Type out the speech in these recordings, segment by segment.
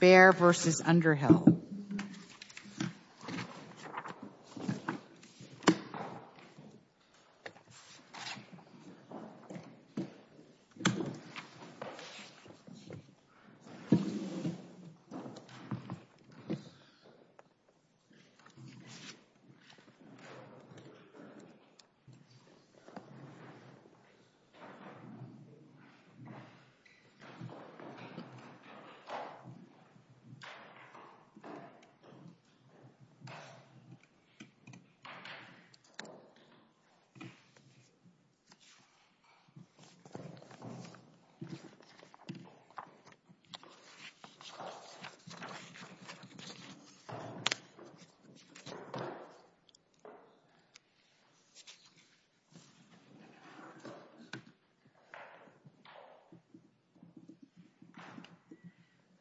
Bear v. Underhill Bear v. Douglas Underhill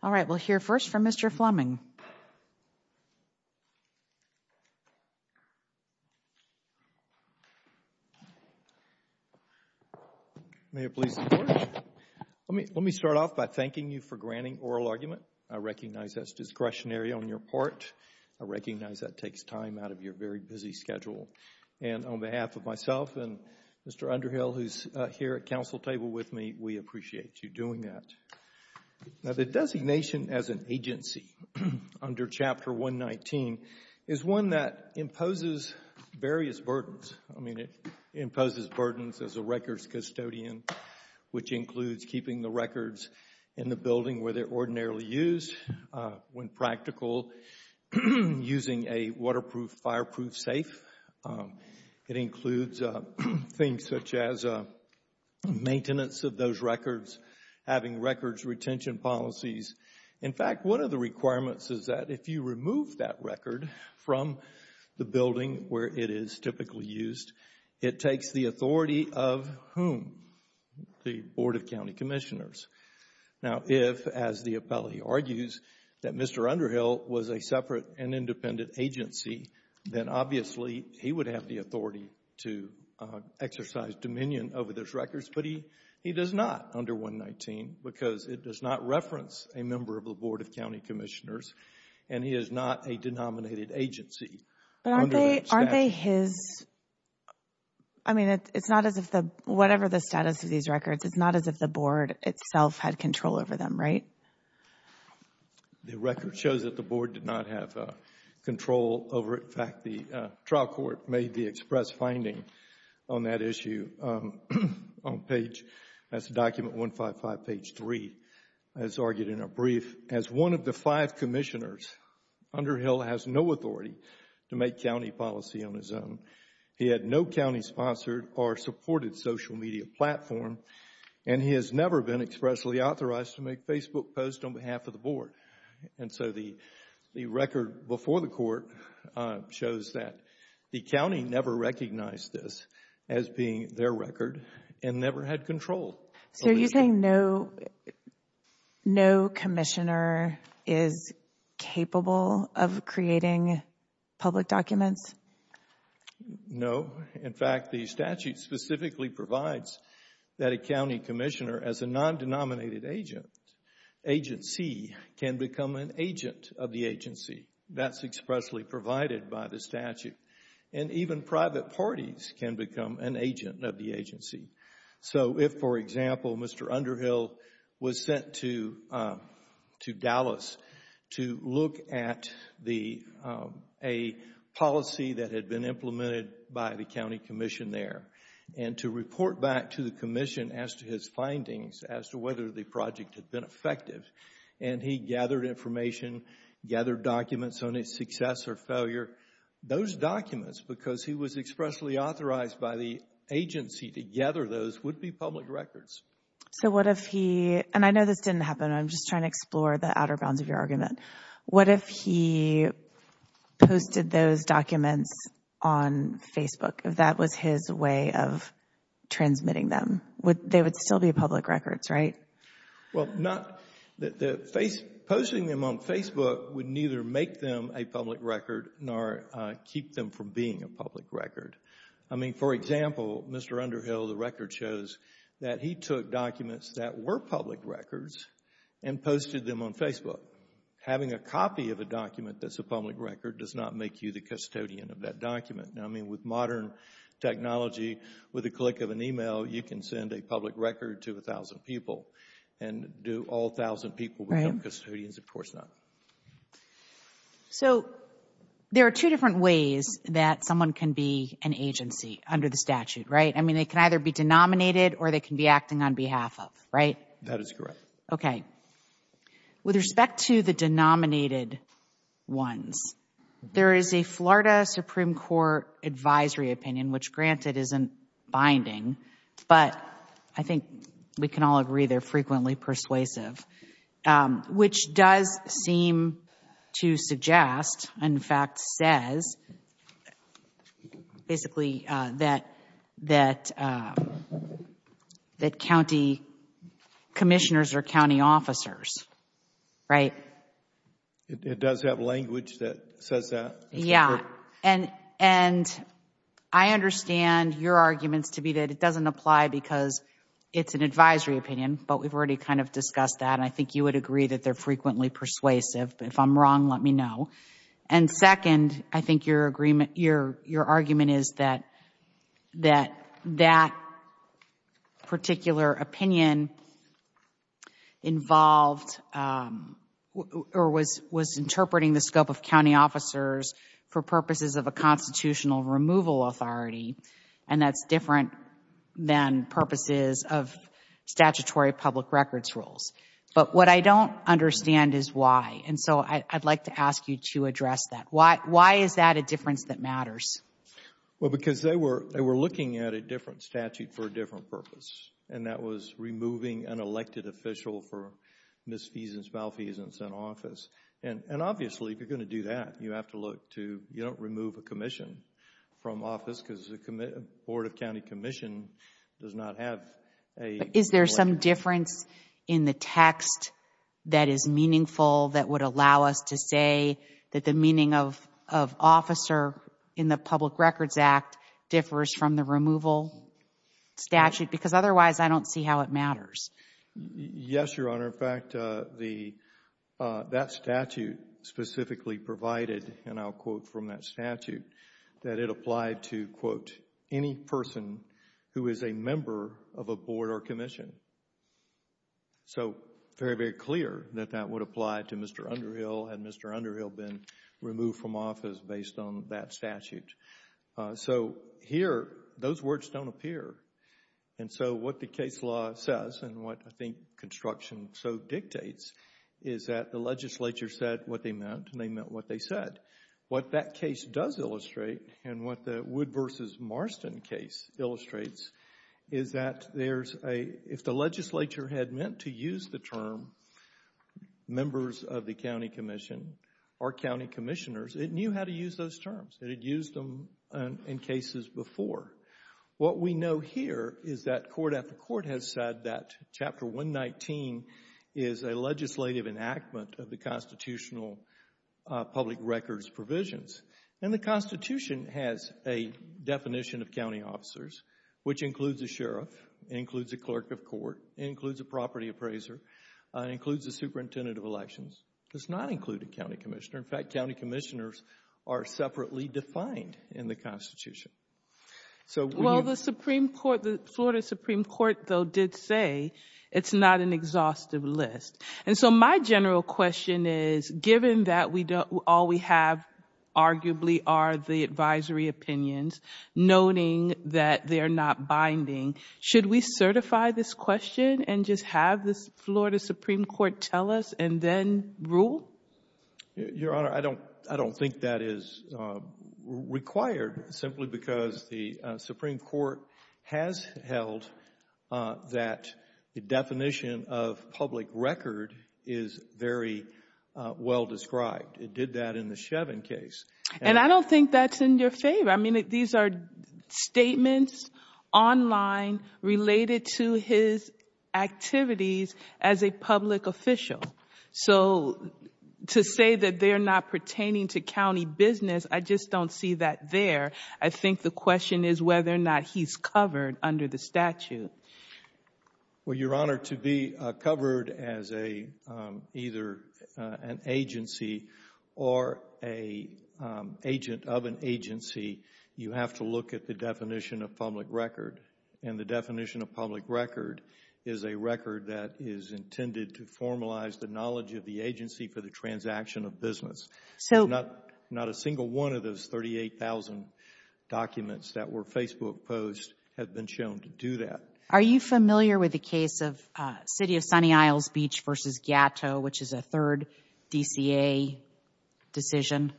All right, we'll hear first from Mr. Fleming. May it please the Court. Let me start off by thanking you for granting oral argument. I recognize that's discretionary on your part. I recognize that takes time out of your very busy schedule. And on behalf of myself and Mr. Underhill, who's here at council table with me, we appreciate you doing that. Now, the designation as an agency under Chapter 119 is one that imposes various burdens. I mean, it imposes burdens as a records custodian, which includes keeping the records in the building where they're ordinarily used, when practical, using a waterproof, fireproof safe. It includes things such as maintenance of those records, having records retention policies. In fact, one of the requirements is that if you remove that record from the building where it is typically used, it takes the authority of whom? The Board of County Commissioners. Now, if, as the appellee argues, that Mr. Underhill was a separate and independent agency, then obviously he would have the authority to exercise dominion over those records. But he does not under 119 because it does not reference a member of the Board of County Commissioners, and he is not a denominated agency. But aren't they his? I mean, it's not as if the, whatever the status of these records, it's not as if the board itself had control over them, right? The record shows that the board did not have control over it. In fact, the trial court made the express finding on that issue on page, that's document 155, page 3. As argued in a brief, as one of the five commissioners, Underhill has no authority to make county policy on his own. He had no county-sponsored or supported social media platform, and he has never been expressly authorized to make Facebook posts on behalf of the board. And so the record before the court shows that the county never recognized this as being their record, and never had control. So are you saying no commissioner is capable of creating public documents? No. In fact, the statute specifically provides that a county commissioner as a non-denominated agent, agency, can become an agent of the agency. That's expressly provided by the statute. And even private parties can become an agent of the agency. So if, for example, Mr. Underhill was sent to Dallas to look at the, a policy that had been implemented by the county commission there, and to report back to the commission as to his findings as to whether the project had been effective, and he gathered information, gathered documents on its success or failure, those documents, because he was expressly authorized by the agency to gather those, would be public records. So what if he, and I know this didn't happen, I'm just trying to explore the outer bounds of your argument. What if he posted those documents on Facebook, if that was his way of transmitting them? They would still be public records, right? Well, posting them on Facebook would neither make them a public record, nor keep them from being a public record. I mean, for example, Mr. Underhill, the record shows that he took documents that were public records and posted them on Facebook. Having a copy of a document that's a public record does not make you the custodian of that document. I mean, with modern technology, with the click of an email, you can send a public record to 1,000 people, and do all 1,000 people become custodians? Of course not. So there are two different ways that someone can be an agency under the statute, right? I mean, they can either be denominated or they can be acting on behalf of, right? That is correct. Okay. With respect to the denominated ones, there is a Florida Supreme Court advisory opinion, which, granted, isn't binding, but I think we can all agree they're frequently persuasive, which does seem to suggest, in fact says, basically, that county commissioners are county officers, right? It does have language that says that. Yeah, and I understand your arguments to be that it doesn't apply because it's an advisory opinion, but we've already kind of discussed that, and I think you would agree that they're frequently persuasive. If I'm wrong, let me know. And second, I think your argument is that that particular opinion involved or was interpreting the scope of county officers for purposes of a constitutional removal authority, and that's different than purposes of statutory public records rules. But what I don't understand is why, and so I'd like to ask you to address that. Why is that a difference that matters? Well, because they were looking at a different statute for a different purpose, and that was removing an elected official for misfeasance, malfeasance in office. And obviously, if you're going to do that, you don't remove a commission from office because the Board of County Commission does not have a... But is there some difference in the text that is meaningful that would allow us to say that the meaning of officer in the Public Records Act differs from the removal statute? Because otherwise, I don't see how it matters. Yes, Your Honor. In fact, that statute specifically provided, and I'll quote from that statute, that it applied to, quote, any person who is a member of a board or commission. So very, very clear that that would apply to Mr. Underhill had Mr. Underhill been removed from office based on that statute. So here, those words don't appear. And so what the case law says, and what I think construction so dictates, is that the legislature said what they meant, and they meant what they said. What that case does illustrate, and what the Wood v. Marston case illustrates, is that if the legislature had meant to use the term members of the county commission or county commissioners, it knew how to use those terms. It had used them in cases before. What we know here is that court after court has said that Chapter 119 is a legislative enactment of the constitutional public records provisions. And the Constitution has a definition of county officers, which includes a sheriff, includes a clerk of court, includes a property appraiser, includes a superintendent of elections. It does not include a county commissioner. In fact, county commissioners are separately defined in the Constitution. Well, the Florida Supreme Court, though, did say it's not an exhaustive list. And so my general question is, given that all we have arguably are the advisory opinions, noting that they're not binding, should we certify this question and just have the Florida Supreme Court tell us and then rule? Your Honor, I don't think that is required, simply because the Supreme Court has held that the definition of public record is very well described. It did that in the Shevin case. And I don't think that's in your favor. I mean, these are statements online related to his activities as a public official. So to say that they're not pertaining to county business, I just don't see that there. I think the question is whether or not he's covered under the statute. Well, Your Honor, to be covered as either an agency or an agent of an agency, you have to look at the definition of public record. And the definition of public record is a record that is intended to formalize the knowledge of the agency for the transaction of business. Not a single one of those 38,000 documents that were Facebook posts have been shown to do that. Are you familiar with the case of City of Sunny Isles Beach v. Gato, which is a third DCA decision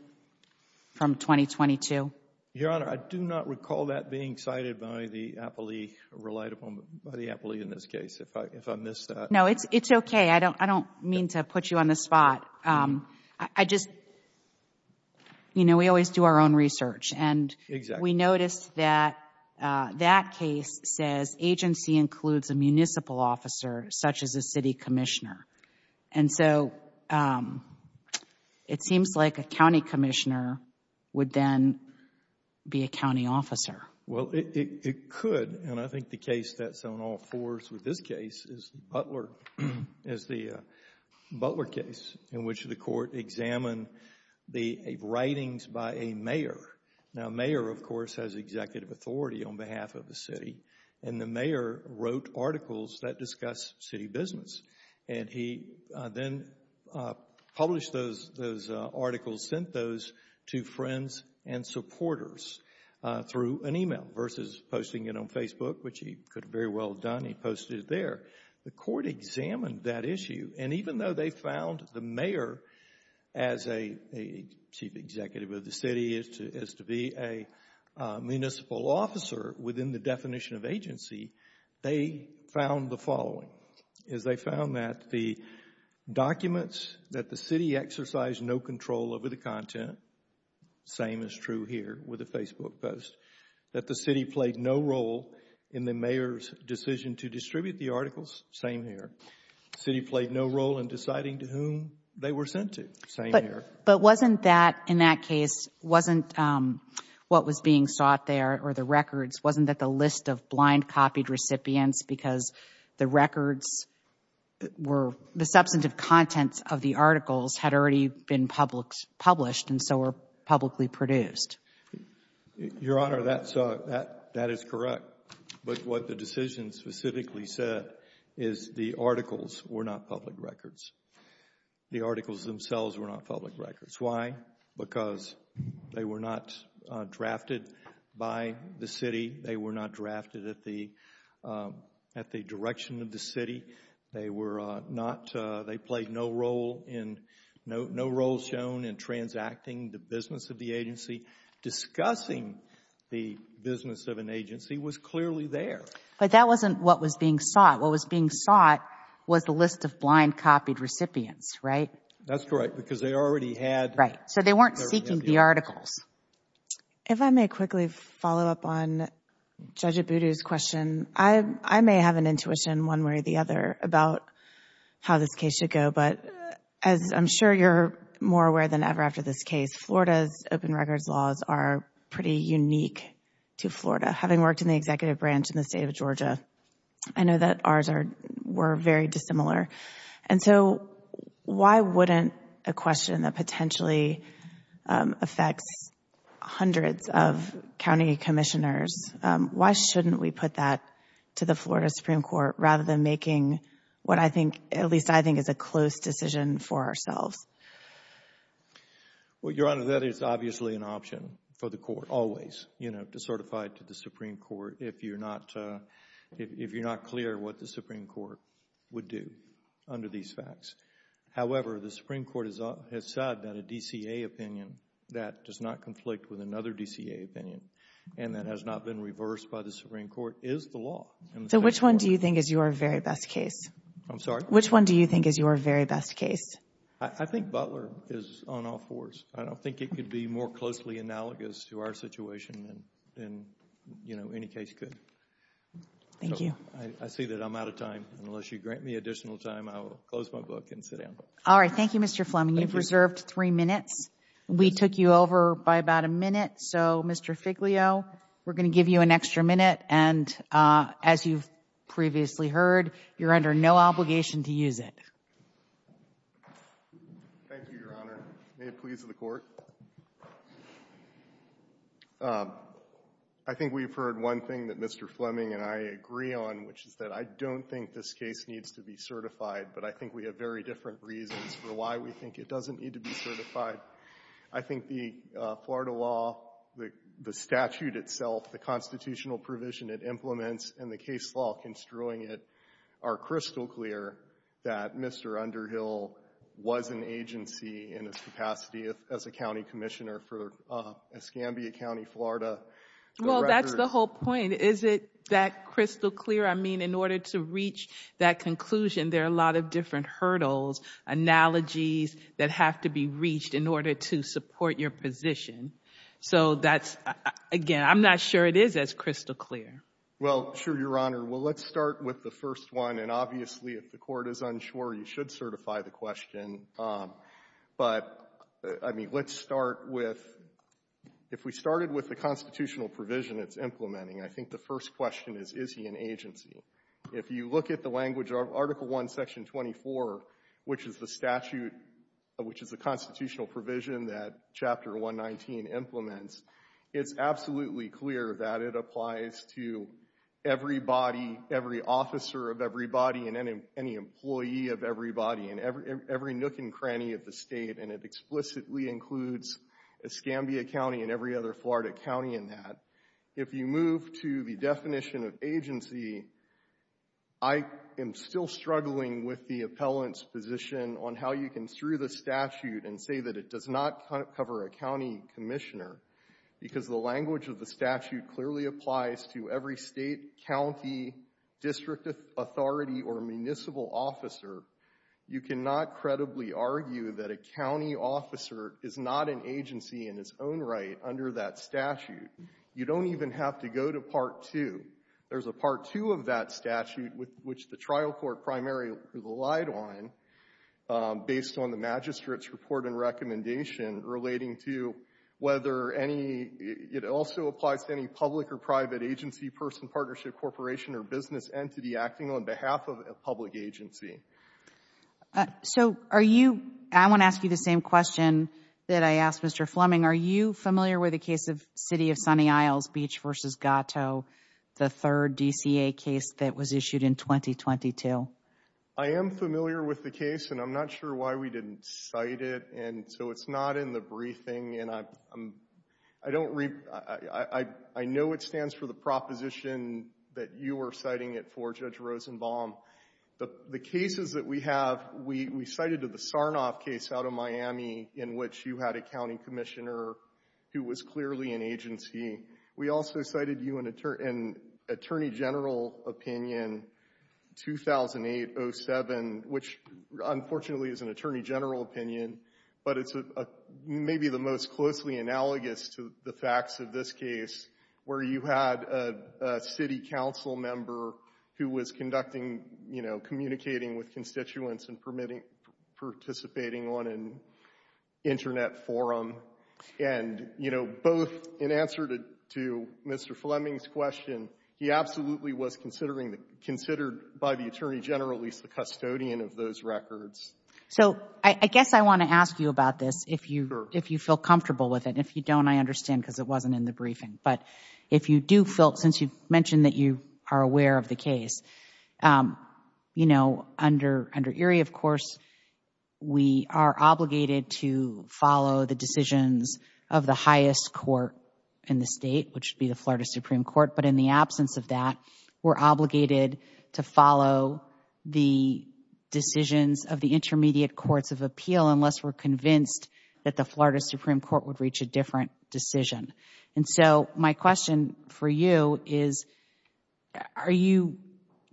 from 2022? Your Honor, I do not recall that being cited by the appellee, relied upon by the appellee in this case, if I missed that. No, it's okay. I don't mean to put you on the spot. I just, you know, we always do our own research. And we noticed that that case says agency includes a municipal officer, such as a city commissioner. And so it seems like a county commissioner would then be a county officer. Well, it could. And I think the case that's on all fours with this case is the Butler case in which the court examined the writings by a mayor. Now, a mayor, of course, has executive authority on behalf of the city. And the mayor wrote articles that discuss city business. And he then published those articles, sent those to friends and supporters through an email versus posting it on Facebook, which he could have very well done. He posted it there. The court examined that issue. And even though they found the mayor as a chief executive of the city, as to be a municipal officer within the definition of agency, they found the following. They found that the documents that the city exercised no control over the content, same is true here with the Facebook post, that the city played no role in the mayor's decision to distribute the articles, same here. The city played no role in deciding to whom they were sent to, same here. But wasn't that, in that case, wasn't what was being sought there or the records, wasn't that the list of blind copied recipients because the records were, the substantive content of the articles had already been published and so were publicly produced? Your Honor, that is correct. But what the decision specifically said is the articles were not public records. The articles themselves were not public records. Why? Because they were not drafted by the city. They were not drafted at the direction of the city. They were not, they played no role in, no role shown in transacting the business of the agency. Discussing the business of an agency was clearly there. But that wasn't what was being sought. What was being sought was the list of blind copied recipients, right? That's correct because they already had. Right. So they weren't seeking the articles. If I may quickly follow up on Judge Abudu's question, I may have an intuition one way or the other about how this case should go. But as I'm sure you're more aware than ever after this case, Florida's open records laws are pretty unique to Florida. Having worked in the executive branch in the state of Georgia, I know that ours were very dissimilar. And so why wouldn't a question that potentially affects hundreds of county commissioners, why shouldn't we put that to the Florida Supreme Court rather than making what I think, at least I think, is a close decision for ourselves? Well, Your Honor, that is obviously an option for the court always, you know, certified to the Supreme Court if you're not clear what the Supreme Court would do under these facts. However, the Supreme Court has said that a DCA opinion that does not conflict with another DCA opinion and that has not been reversed by the Supreme Court is the law. So which one do you think is your very best case? I'm sorry? Which one do you think is your very best case? I think Butler is on all fours. I don't think it could be more closely analogous to our situation than, you know, any case could. Thank you. I see that I'm out of time. Unless you grant me additional time, I will close my book and sit down. All right. Thank you, Mr. Fleming. You've reserved three minutes. We took you over by about a minute. So, Mr. Figlio, we're going to give you an extra minute. And as you've previously heard, you're under no obligation to use it. Thank you, Your Honor. May it please the Court. I think we've heard one thing that Mr. Fleming and I agree on, which is that I don't think this case needs to be certified, but I think we have very different reasons for why we think it doesn't need to be certified. I think the Florida law, the statute itself, the constitutional provision it implements, and the case law construing it are crystal clear that Mr. Underhill was an agency in his capacity as a county commissioner for Escambia County, Florida. Well, that's the whole point. Is it that crystal clear? I mean, in order to reach that conclusion, there are a lot of different hurdles, analogies that have to be reached in order to support your position. So that's, again, I'm not sure it is as crystal clear. Well, sure, Your Honor. Well, let's start with the first one. And obviously, if the Court is unsure, you should certify the question. But, I mean, let's start with, if we started with the constitutional provision it's implementing, I think the first question is, is he an agency? If you look at the language of Article I, Section 24, which is the statute, which is the constitutional provision that Chapter 119 implements, it's absolutely clear that it applies to everybody, every officer of everybody and any employee of everybody and every nook and cranny of the state. And it explicitly includes Escambia County and every other Florida county in that. If you move to the definition of agency, I am still struggling with the appellant's position on how you can, through the statute, and say that it does not cover a county commissioner because the language of the statute clearly applies to every state, county, district authority or municipal officer, you cannot credibly argue that a county officer is not an agency in its own right under that statute. You don't even have to go to Part 2. There's a Part 2 of that statute, which the trial court primarily relied on, based on the magistrate's report and recommendation relating to whether any, it also applies to any public or private agency, person, partnership, corporation, or business entity acting on behalf of a public agency. So are you, I want to ask you the same question that I asked Mr. Fleming. Are you familiar with the case of City of Sunny Isles, Beach v. Gato, the third DCA case that was issued in 2022? I am familiar with the case, and I'm not sure why we didn't cite it, and so it's not in the briefing, and I don't, I know it stands for the proposition that you were citing it for, Judge Rosenbaum. The cases that we have, we cited the Sarnoff case out of Miami in which you had a county commissioner who was clearly an agency. We also cited you in attorney general opinion 2008-07, which unfortunately is an attorney general opinion, but it's maybe the most closely analogous to the facts of this case where you had a city council member who was conducting, you know, communicating with constituents and participating on an Internet forum, and, you know, both in answer to Mr. Fleming's question, he absolutely was considered by the attorney general, at least the custodian of those records. So I guess I want to ask you about this if you feel comfortable with it. If you don't, I understand because it wasn't in the briefing, but if you do feel, since you mentioned that you are aware of the case, you know, under Erie, of course, we are obligated to follow the decisions of the highest court in the state, which would be the Florida Supreme Court, but in the absence of that, we're obligated to follow the decisions of the intermediate courts of appeal unless we're convinced that the Florida Supreme Court would reach a different decision. And so my question for you is, are you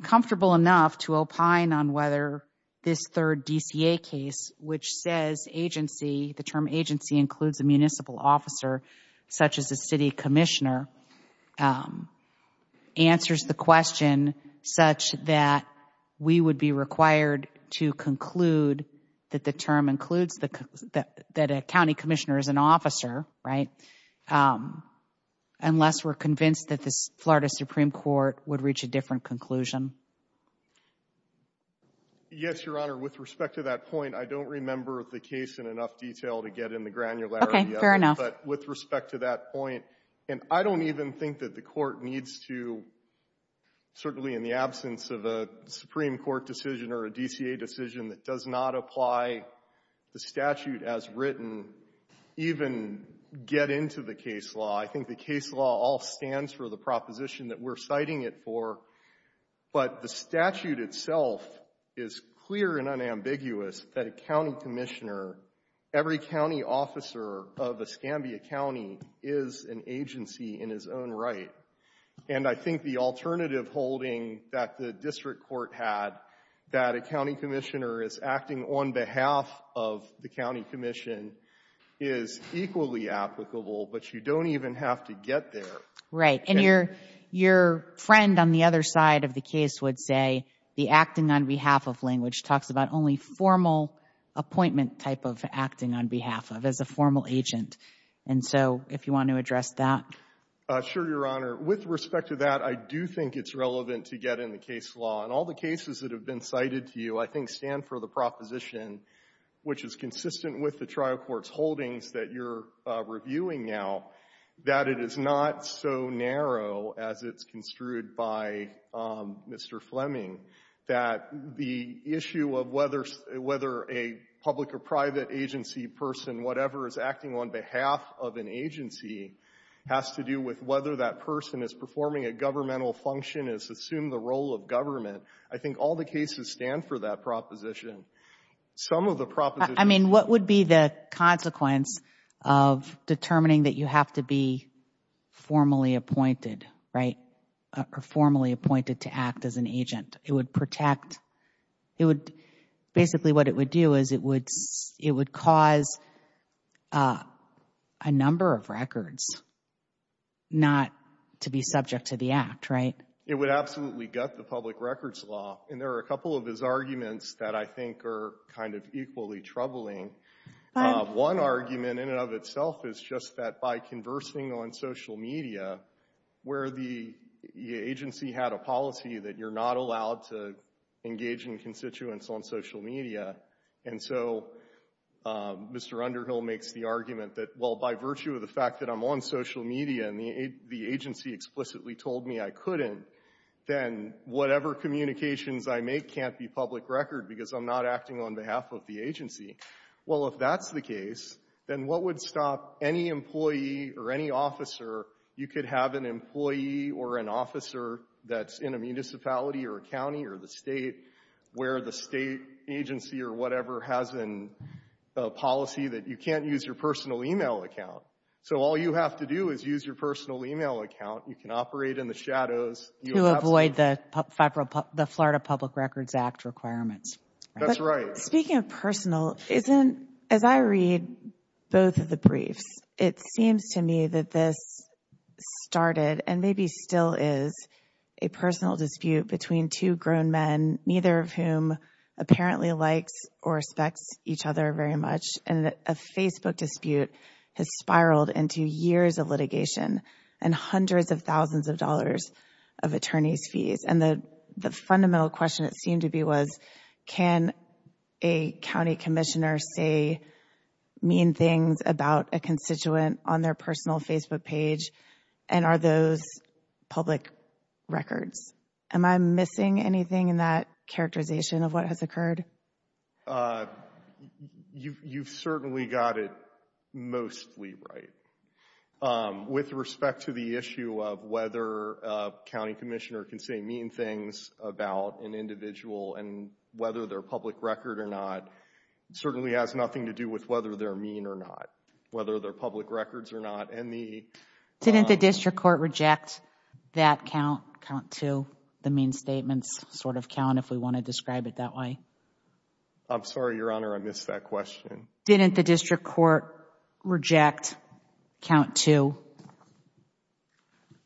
comfortable enough to opine on whether this third DCA case, which says agency, the term agency includes a municipal officer such as a city commissioner, answers the question such that we would be required to conclude that the term includes that a county commissioner is an officer, right, unless we're convinced that the Florida Supreme Court would reach a different conclusion? Yes, Your Honor. With respect to that point, I don't remember the case in enough detail to get in the granularity of it. Okay. Fair enough. But with respect to that point, and I don't even think that the court needs to, certainly in the absence of a Supreme Court decision or a DCA decision that does not apply the statute as written, even get into the case law. I think the case law all stands for the proposition that we're citing it for, but the statute itself is clear and unambiguous that a county commissioner, every county officer of Escambia County, is an agency in his own right. And I think the alternative holding that the district court had, that a county commissioner is acting on behalf of the county commission, is equally applicable, but you don't even have to get there. Right. And your friend on the other side of the case would say the acting on behalf of language talks about only formal appointment type of acting on behalf of, as a formal agent. And so if you want to address that. Sure, Your Honor. With respect to that, I do think it's relevant to get in the case law. And all the cases that have been cited to you, I think, stand for the proposition, which is consistent with the trial court's holdings that you're reviewing now, that it is not so narrow as it's construed by Mr. Fleming, that the issue of whether a public or private agency person, whatever is acting on behalf of an agency, has to do with whether that person is performing a governmental function, has assumed the role of government. I think all the cases stand for that proposition. Some of the propositions. I mean, what would be the consequence of determining that you have to be formally appointed, right, or formally appointed to act as an agent? It would protect. Basically what it would do is it would cause a number of records not to be subject to the act, right? It would absolutely gut the public records law. And there are a couple of his arguments that I think are kind of equally troubling. One argument in and of itself is just that by conversing on social media, where the agency had a policy that you're not allowed to engage in constituents on social media, and so Mr. Underhill makes the argument that, well, by virtue of the fact that I'm on social media and the agency explicitly told me I couldn't, then whatever communications I make can't be public record because I'm not acting on behalf of the agency. Well, if that's the case, then what would stop any employee or any officer? You could have an employee or an officer that's in a municipality or a county or the state where the state agency or whatever has a policy that you can't use your personal e-mail account. So all you have to do is use your personal e-mail account. You can operate in the shadows. You avoid the Florida Public Records Act requirements. That's right. Speaking of personal, as I read both of the briefs, it seems to me that this started and maybe still is a personal dispute between two grown men, neither of whom apparently likes or respects each other very much, and a Facebook dispute has spiraled into years of litigation and hundreds of thousands of dollars of attorney's fees. And the fundamental question, it seemed to be, was can a county commissioner say mean things about a constituent on their personal Facebook page, and are those public records? Am I missing anything in that characterization of what has occurred? You've certainly got it mostly right. With respect to the issue of whether a county commissioner can say mean things about an individual and whether they're public record or not, it certainly has nothing to do with whether they're mean or not, whether they're public records or not. Didn't the district court reject that count, count two, the mean statements sort of count if we want to describe it that way? I'm sorry, Your Honor, I missed that question. Didn't the district court reject count two?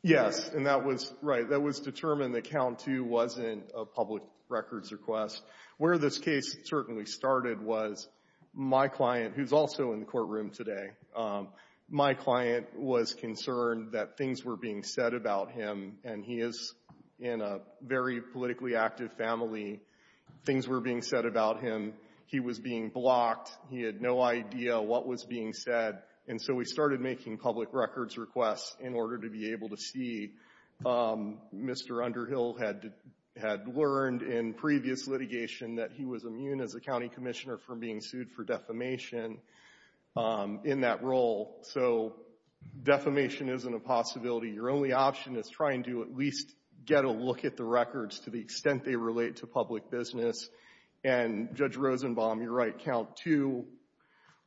Yes, and that was right. That was determined that count two wasn't a public records request. Where this case certainly started was my client, who's also in the courtroom today, my client was concerned that things were being said about him, and he is in a very politically active family. Things were being said about him. He was being blocked. He had no idea what was being said. And so we started making public records requests in order to be able to see. Mr. Underhill had learned in previous litigation that he was immune as a county commissioner from being sued for defamation in that role. So defamation isn't a possibility. Your only option is trying to at least get a look at the records to the extent they relate to public business. And Judge Rosenbaum, you're right, count two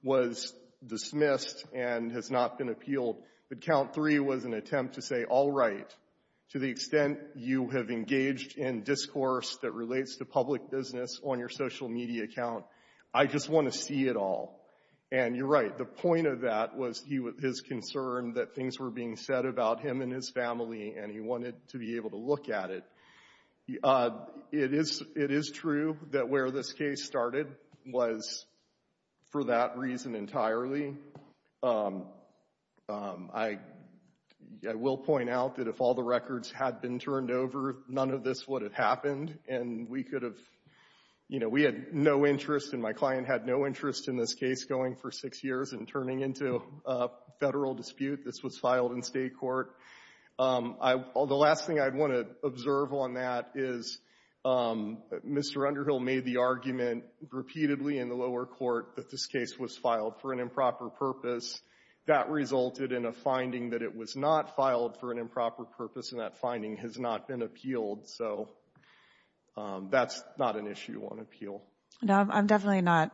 was dismissed and has not been appealed. But count three was an attempt to say, all right, to the extent you have engaged in discourse that relates to public business on your social media account, I just want to see it all. And you're right, the point of that was his concern that things were being said about him and his family, and he wanted to be able to look at it. It is true that where this case started was for that reason entirely. I will point out that if all the records had been turned over, none of this would have happened, and we could have, you know, we had no interest and my client had no interest in this case going for six years and turning into a federal dispute. This was filed in state court. The last thing I'd want to observe on that is Mr. Underhill made the argument repeatedly in the lower court that this case was filed for an improper purpose. That resulted in a finding that it was not filed for an improper purpose, and that finding has not been appealed. So that's not an issue on appeal. No, I'm definitely not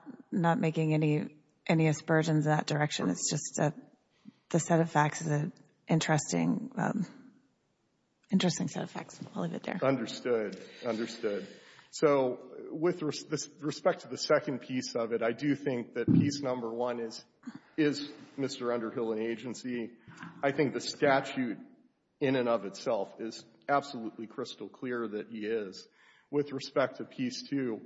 making any aspersions in that direction. It's just the set of facts is an interesting set of facts. I'll leave it there. Understood. Understood. So with respect to the second piece of it, I do think that piece number one is, is Mr. Underhill an agency? I think the statute in and of itself is absolutely crystal clear that he is. With respect to piece two,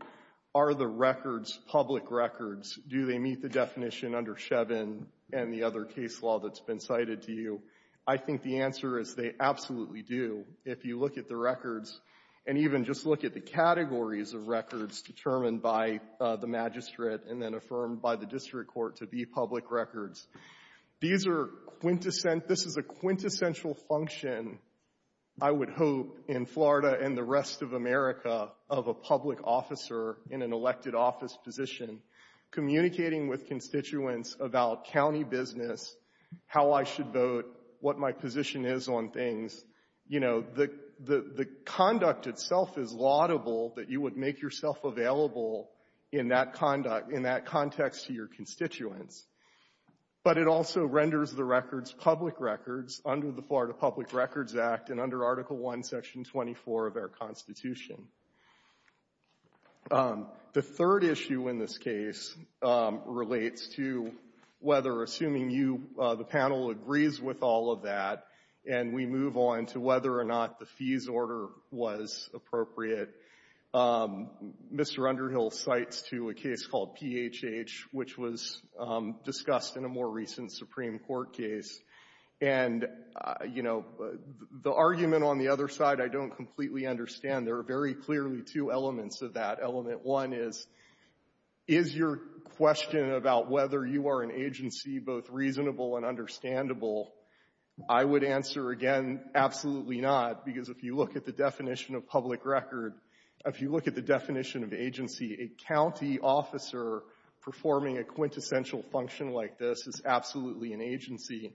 are the records public records? Do they meet the definition under Shevin and the other case law that's been cited to you? I think the answer is they absolutely do. If you look at the records and even just look at the categories of records determined by the magistrate and then affirmed by the district court to be public records, these are quintessential. This is a quintessential function, I would hope, in Florida and the rest of America, of a public officer in an elected office position communicating with constituents about county business, how I should vote, what my position is on things. You know, the conduct itself is laudable that you would make yourself available in that conduct, in that context to your constituents. But it also renders the records public records under the Florida Public Records Act and under Article I, Section 24 of our Constitution. The third issue in this case relates to whether, assuming you, the panel agrees with all of that and we move on to whether or not the fees order was appropriate, Mr. Underhill cites to a case called PHH, which was discussed in a more recent Supreme Court case. And, you know, the argument on the other side I don't completely understand. There are very clearly two elements of that. Element one is, is your question about whether you are an agency both reasonable and understandable? I would answer, again, absolutely not. Because if you look at the definition of public record, if you look at the definition of agency, a county officer performing a quintessential function like this is absolutely an agency.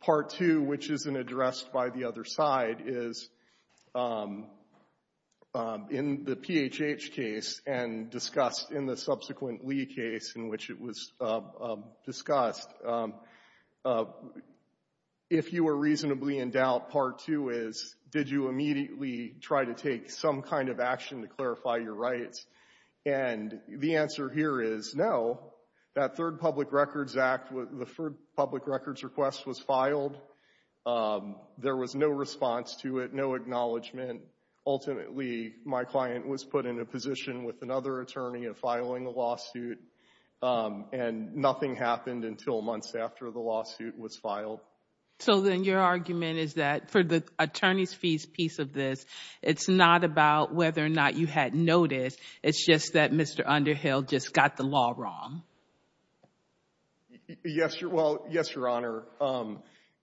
Part two, which isn't addressed by the other side, is in the PHH case and discussed in the subsequent Lee case in which it was discussed, if you were reasonably in doubt, part two is, did you immediately try to take some kind of action to clarify your rights? And the answer here is no. That Third Public Records Act, the Third Public Records Request was filed. There was no response to it, no acknowledgement. Ultimately, my client was put in a position with another attorney of filing a lawsuit and nothing happened until months after the lawsuit was filed. So then your argument is that for the attorney's fees piece of this, it's not about whether or not you had notice. It's just that Mr. Underhill just got the law wrong. Well, yes, Your Honor.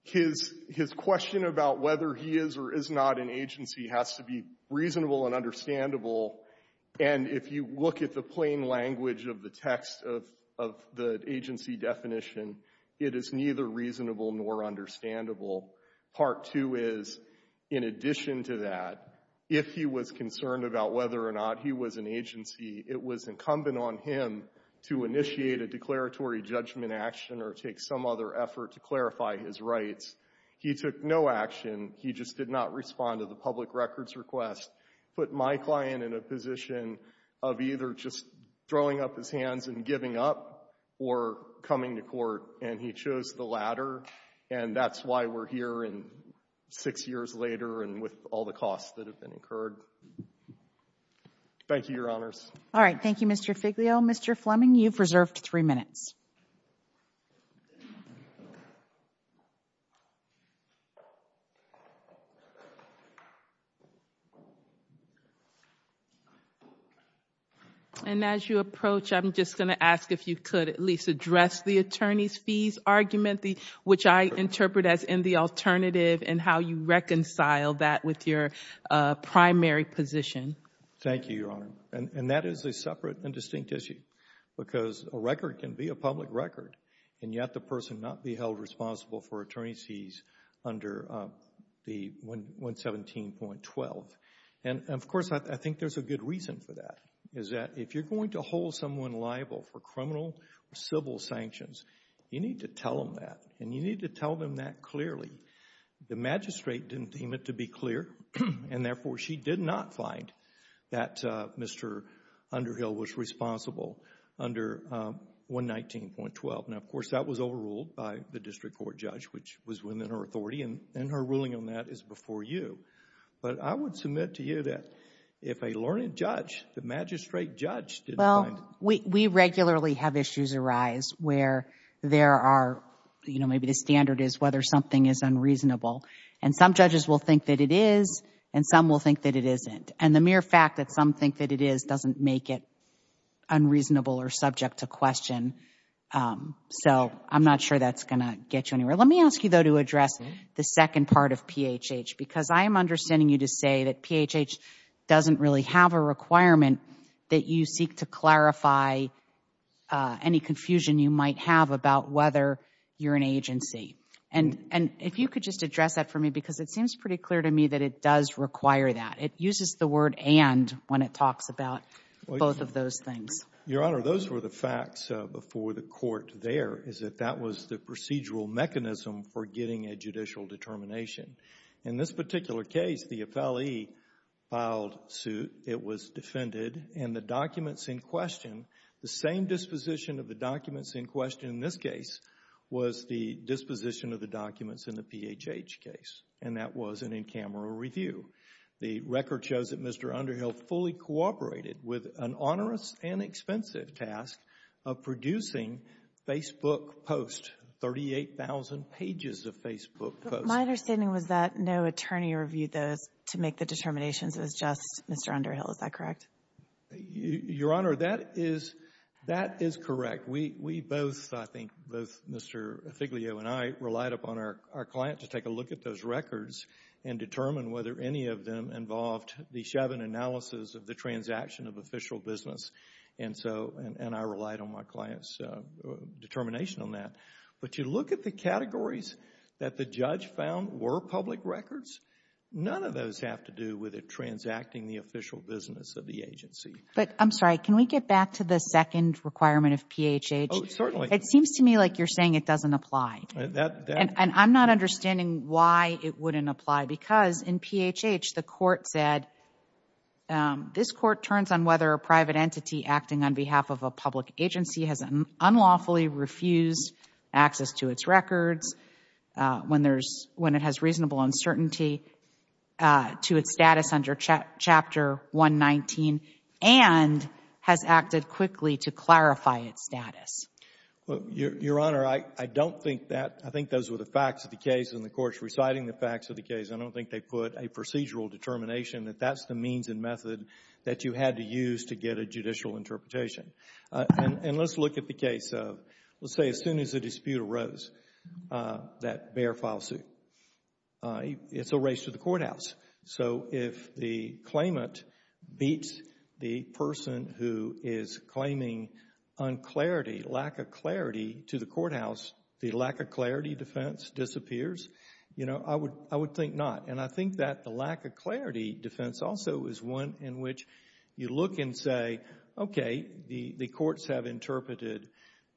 His question about whether he is or is not an agency has to be reasonable and understandable. And if you look at the plain language of the text of the agency definition, it is neither reasonable nor understandable. Part two is, in addition to that, if he was concerned about whether or not he was an agency, it was incumbent on him to initiate a declaratory judgment action or take some other effort to clarify his rights. He took no action. He just did not respond to the public records request, put my client in a position of either just throwing up his hands and giving up or coming to court, and he chose the latter. And that's why we're here six years later and with all the costs that have been incurred. Thank you, Your Honors. All right. Thank you, Mr. Figlio. Mr. Fleming, you've reserved three minutes. And as you approach, I'm just going to ask if you could at least address the attorney's fees argument, which I interpret as in the alternative and how you reconcile that with your primary position. Thank you, Your Honor. And that is a separate and distinct issue because a record can be a public record, and yet the person not be held responsible for attorney's fees under the 117.12. And, of course, I think there's a good reason for that, is that if you're going to hold someone liable for criminal or civil sanctions, you need to tell them that, and you need to tell them that clearly. The magistrate didn't deem it to be clear, and, therefore, she did not find that Mr. Underhill was responsible under 119.12. Now, of course, that was overruled by the district court judge, which was within her authority, and her ruling on that is before you. But I would submit to you that if a learned judge, the magistrate judge, did find... You know, maybe the standard is whether something is unreasonable. And some judges will think that it is, and some will think that it isn't. And the mere fact that some think that it is doesn't make it unreasonable or subject to question. So I'm not sure that's going to get you anywhere. Let me ask you, though, to address the second part of PHH, because I am understanding you to say that PHH doesn't really have a requirement that you seek to clarify any confusion you might have about whether you're an agency. And if you could just address that for me, because it seems pretty clear to me that it does require that. It uses the word and when it talks about both of those things. Your Honor, those were the facts before the court there, is that that was the procedural mechanism for getting a judicial determination. In this particular case, the FLE filed suit. It was defended. And the documents in question, the same disposition of the documents in question in this case was the disposition of the documents in the PHH case. And that was an in-camera review. The record shows that Mr. Underhill fully cooperated with an onerous and expensive task of producing Facebook posts, 38,000 pages of Facebook posts. My understanding was that no attorney reviewed those to make the determinations. It was just Mr. Underhill. Is that correct? Your Honor, that is correct. We both, I think, both Mr. Figlio and I relied upon our client to take a look at those records and determine whether any of them involved the Chavin analysis of the transaction of official business. And I relied on my client's determination on that. But you look at the categories that the judge found were public records, none of those have to do with it transacting the official business of the agency. But, I'm sorry, can we get back to the second requirement of PHH? Oh, certainly. It seems to me like you're saying it doesn't apply. And I'm not understanding why it wouldn't apply. Because in PHH, the court said, this court turns on whether a private entity acting on behalf of a public agency has unlawfully refused access to its records when it has reasonable uncertainty to its status under Chapter 119 and has acted quickly to clarify its status. Your Honor, I don't think that, I think those were the facts of the case and the court's reciting the facts of the case. I don't think they put a procedural determination that that's the means and method that you had to use to get a judicial interpretation. And let's look at the case of, let's say as soon as a dispute arose, that Bexar file suit. It's a race to the courthouse. So if the claimant beats the person who is claiming unclarity, lack of clarity to the courthouse, the lack of clarity defense disappears? You know, I would think not. And I think that the lack of clarity defense also is one in which you look and say, okay, the courts have interpreted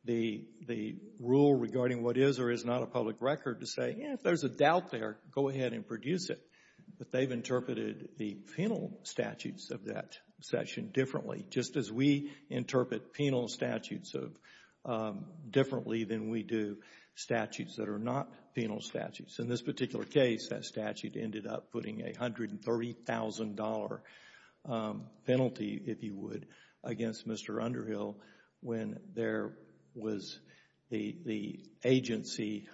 the rule regarding what is or is not a public record to say, if there's a doubt there, go ahead and produce it. But they've interpreted the penal statutes of that section differently, just as we interpret penal statutes differently than we do statutes that are not penal statutes. In this particular case, that statute ended up putting a $130,000 penalty, if you would, against Mr. Underhill when there was the agency,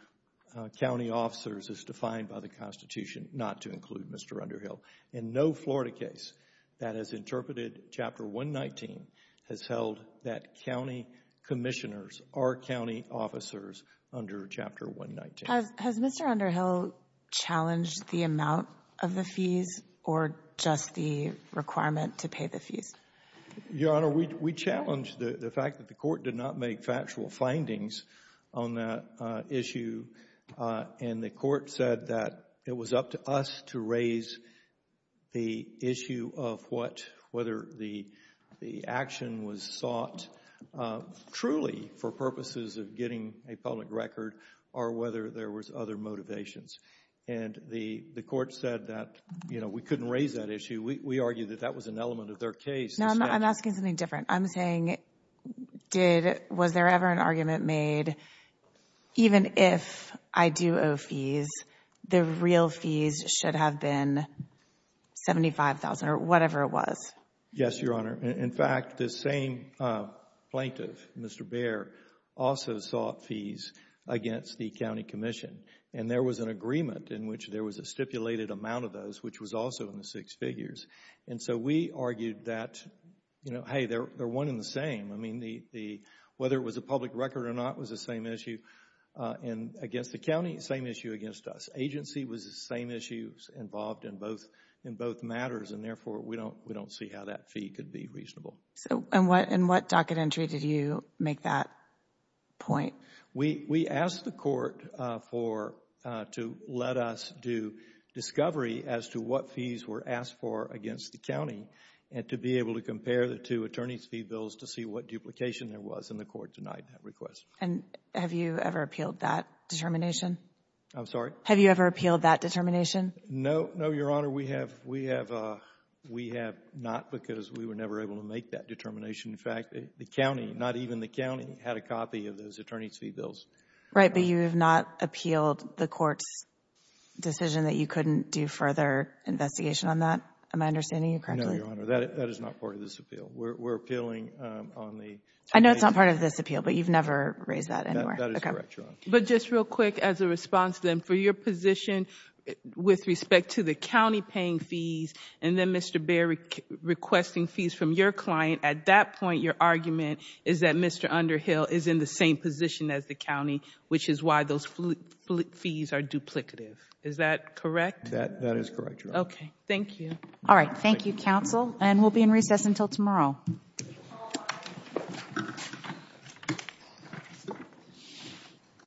county officers, as defined by the Constitution, not to include Mr. Underhill. In no Florida case that has interpreted Chapter 119 has held that county commissioners are county officers under Chapter 119. Has Mr. Underhill challenged the amount of the fees or just the requirement to pay the fees? Your Honor, we challenged the fact that the court did not make factual findings on that issue, and the court said that it was up to us to raise the issue of what, whether the action was sought truly for purposes of getting a public record or whether there was other motivations. And the court said that, you know, we couldn't raise that issue. We argued that that was an element of their case. No, I'm asking something different. I'm saying, was there ever an argument made, even if I do owe fees, the real fees should have been $75,000 or whatever it was? Yes, Your Honor. In fact, the same plaintiff, Mr. Bair, also sought fees against the county commission, and there was an agreement in which there was a stipulated amount of those, which was also in the six figures. And so we argued that, you know, hey, they're one and the same. I mean, whether it was a public record or not was the same issue against the county, same issue against us. Agency was the same issue involved in both matters, and therefore we don't see how that fee could be reasonable. And what docket entry did you make that point? We asked the court to let us do discovery as to what fees were asked for against the county and to be able to compare the two attorney's fee bills to see what duplication there was, and the court denied that request. And have you ever appealed that determination? I'm sorry? Have you ever appealed that determination? No, no, Your Honor. We have not because we were never able to make that determination. In fact, the county, not even the county, had a copy of those attorney's fee bills. Right, but you have not appealed the court's decision that you couldn't do further investigation on that? Am I understanding you correctly? No, Your Honor. That is not part of this appeal. We're appealing on the... I know it's not part of this appeal, but you've never raised that anywhere. That is correct, Your Honor. But just real quick as a response, then, for your position with respect to the county paying fees and then Mr. Baird requesting fees from your client, at that point your argument is that Mr. Underhill is in the same position as the county, which is why those fees are duplicative. Is that correct? That is correct, Your Honor. Okay, thank you. All right, thank you, counsel, and we'll be in recess until tomorrow.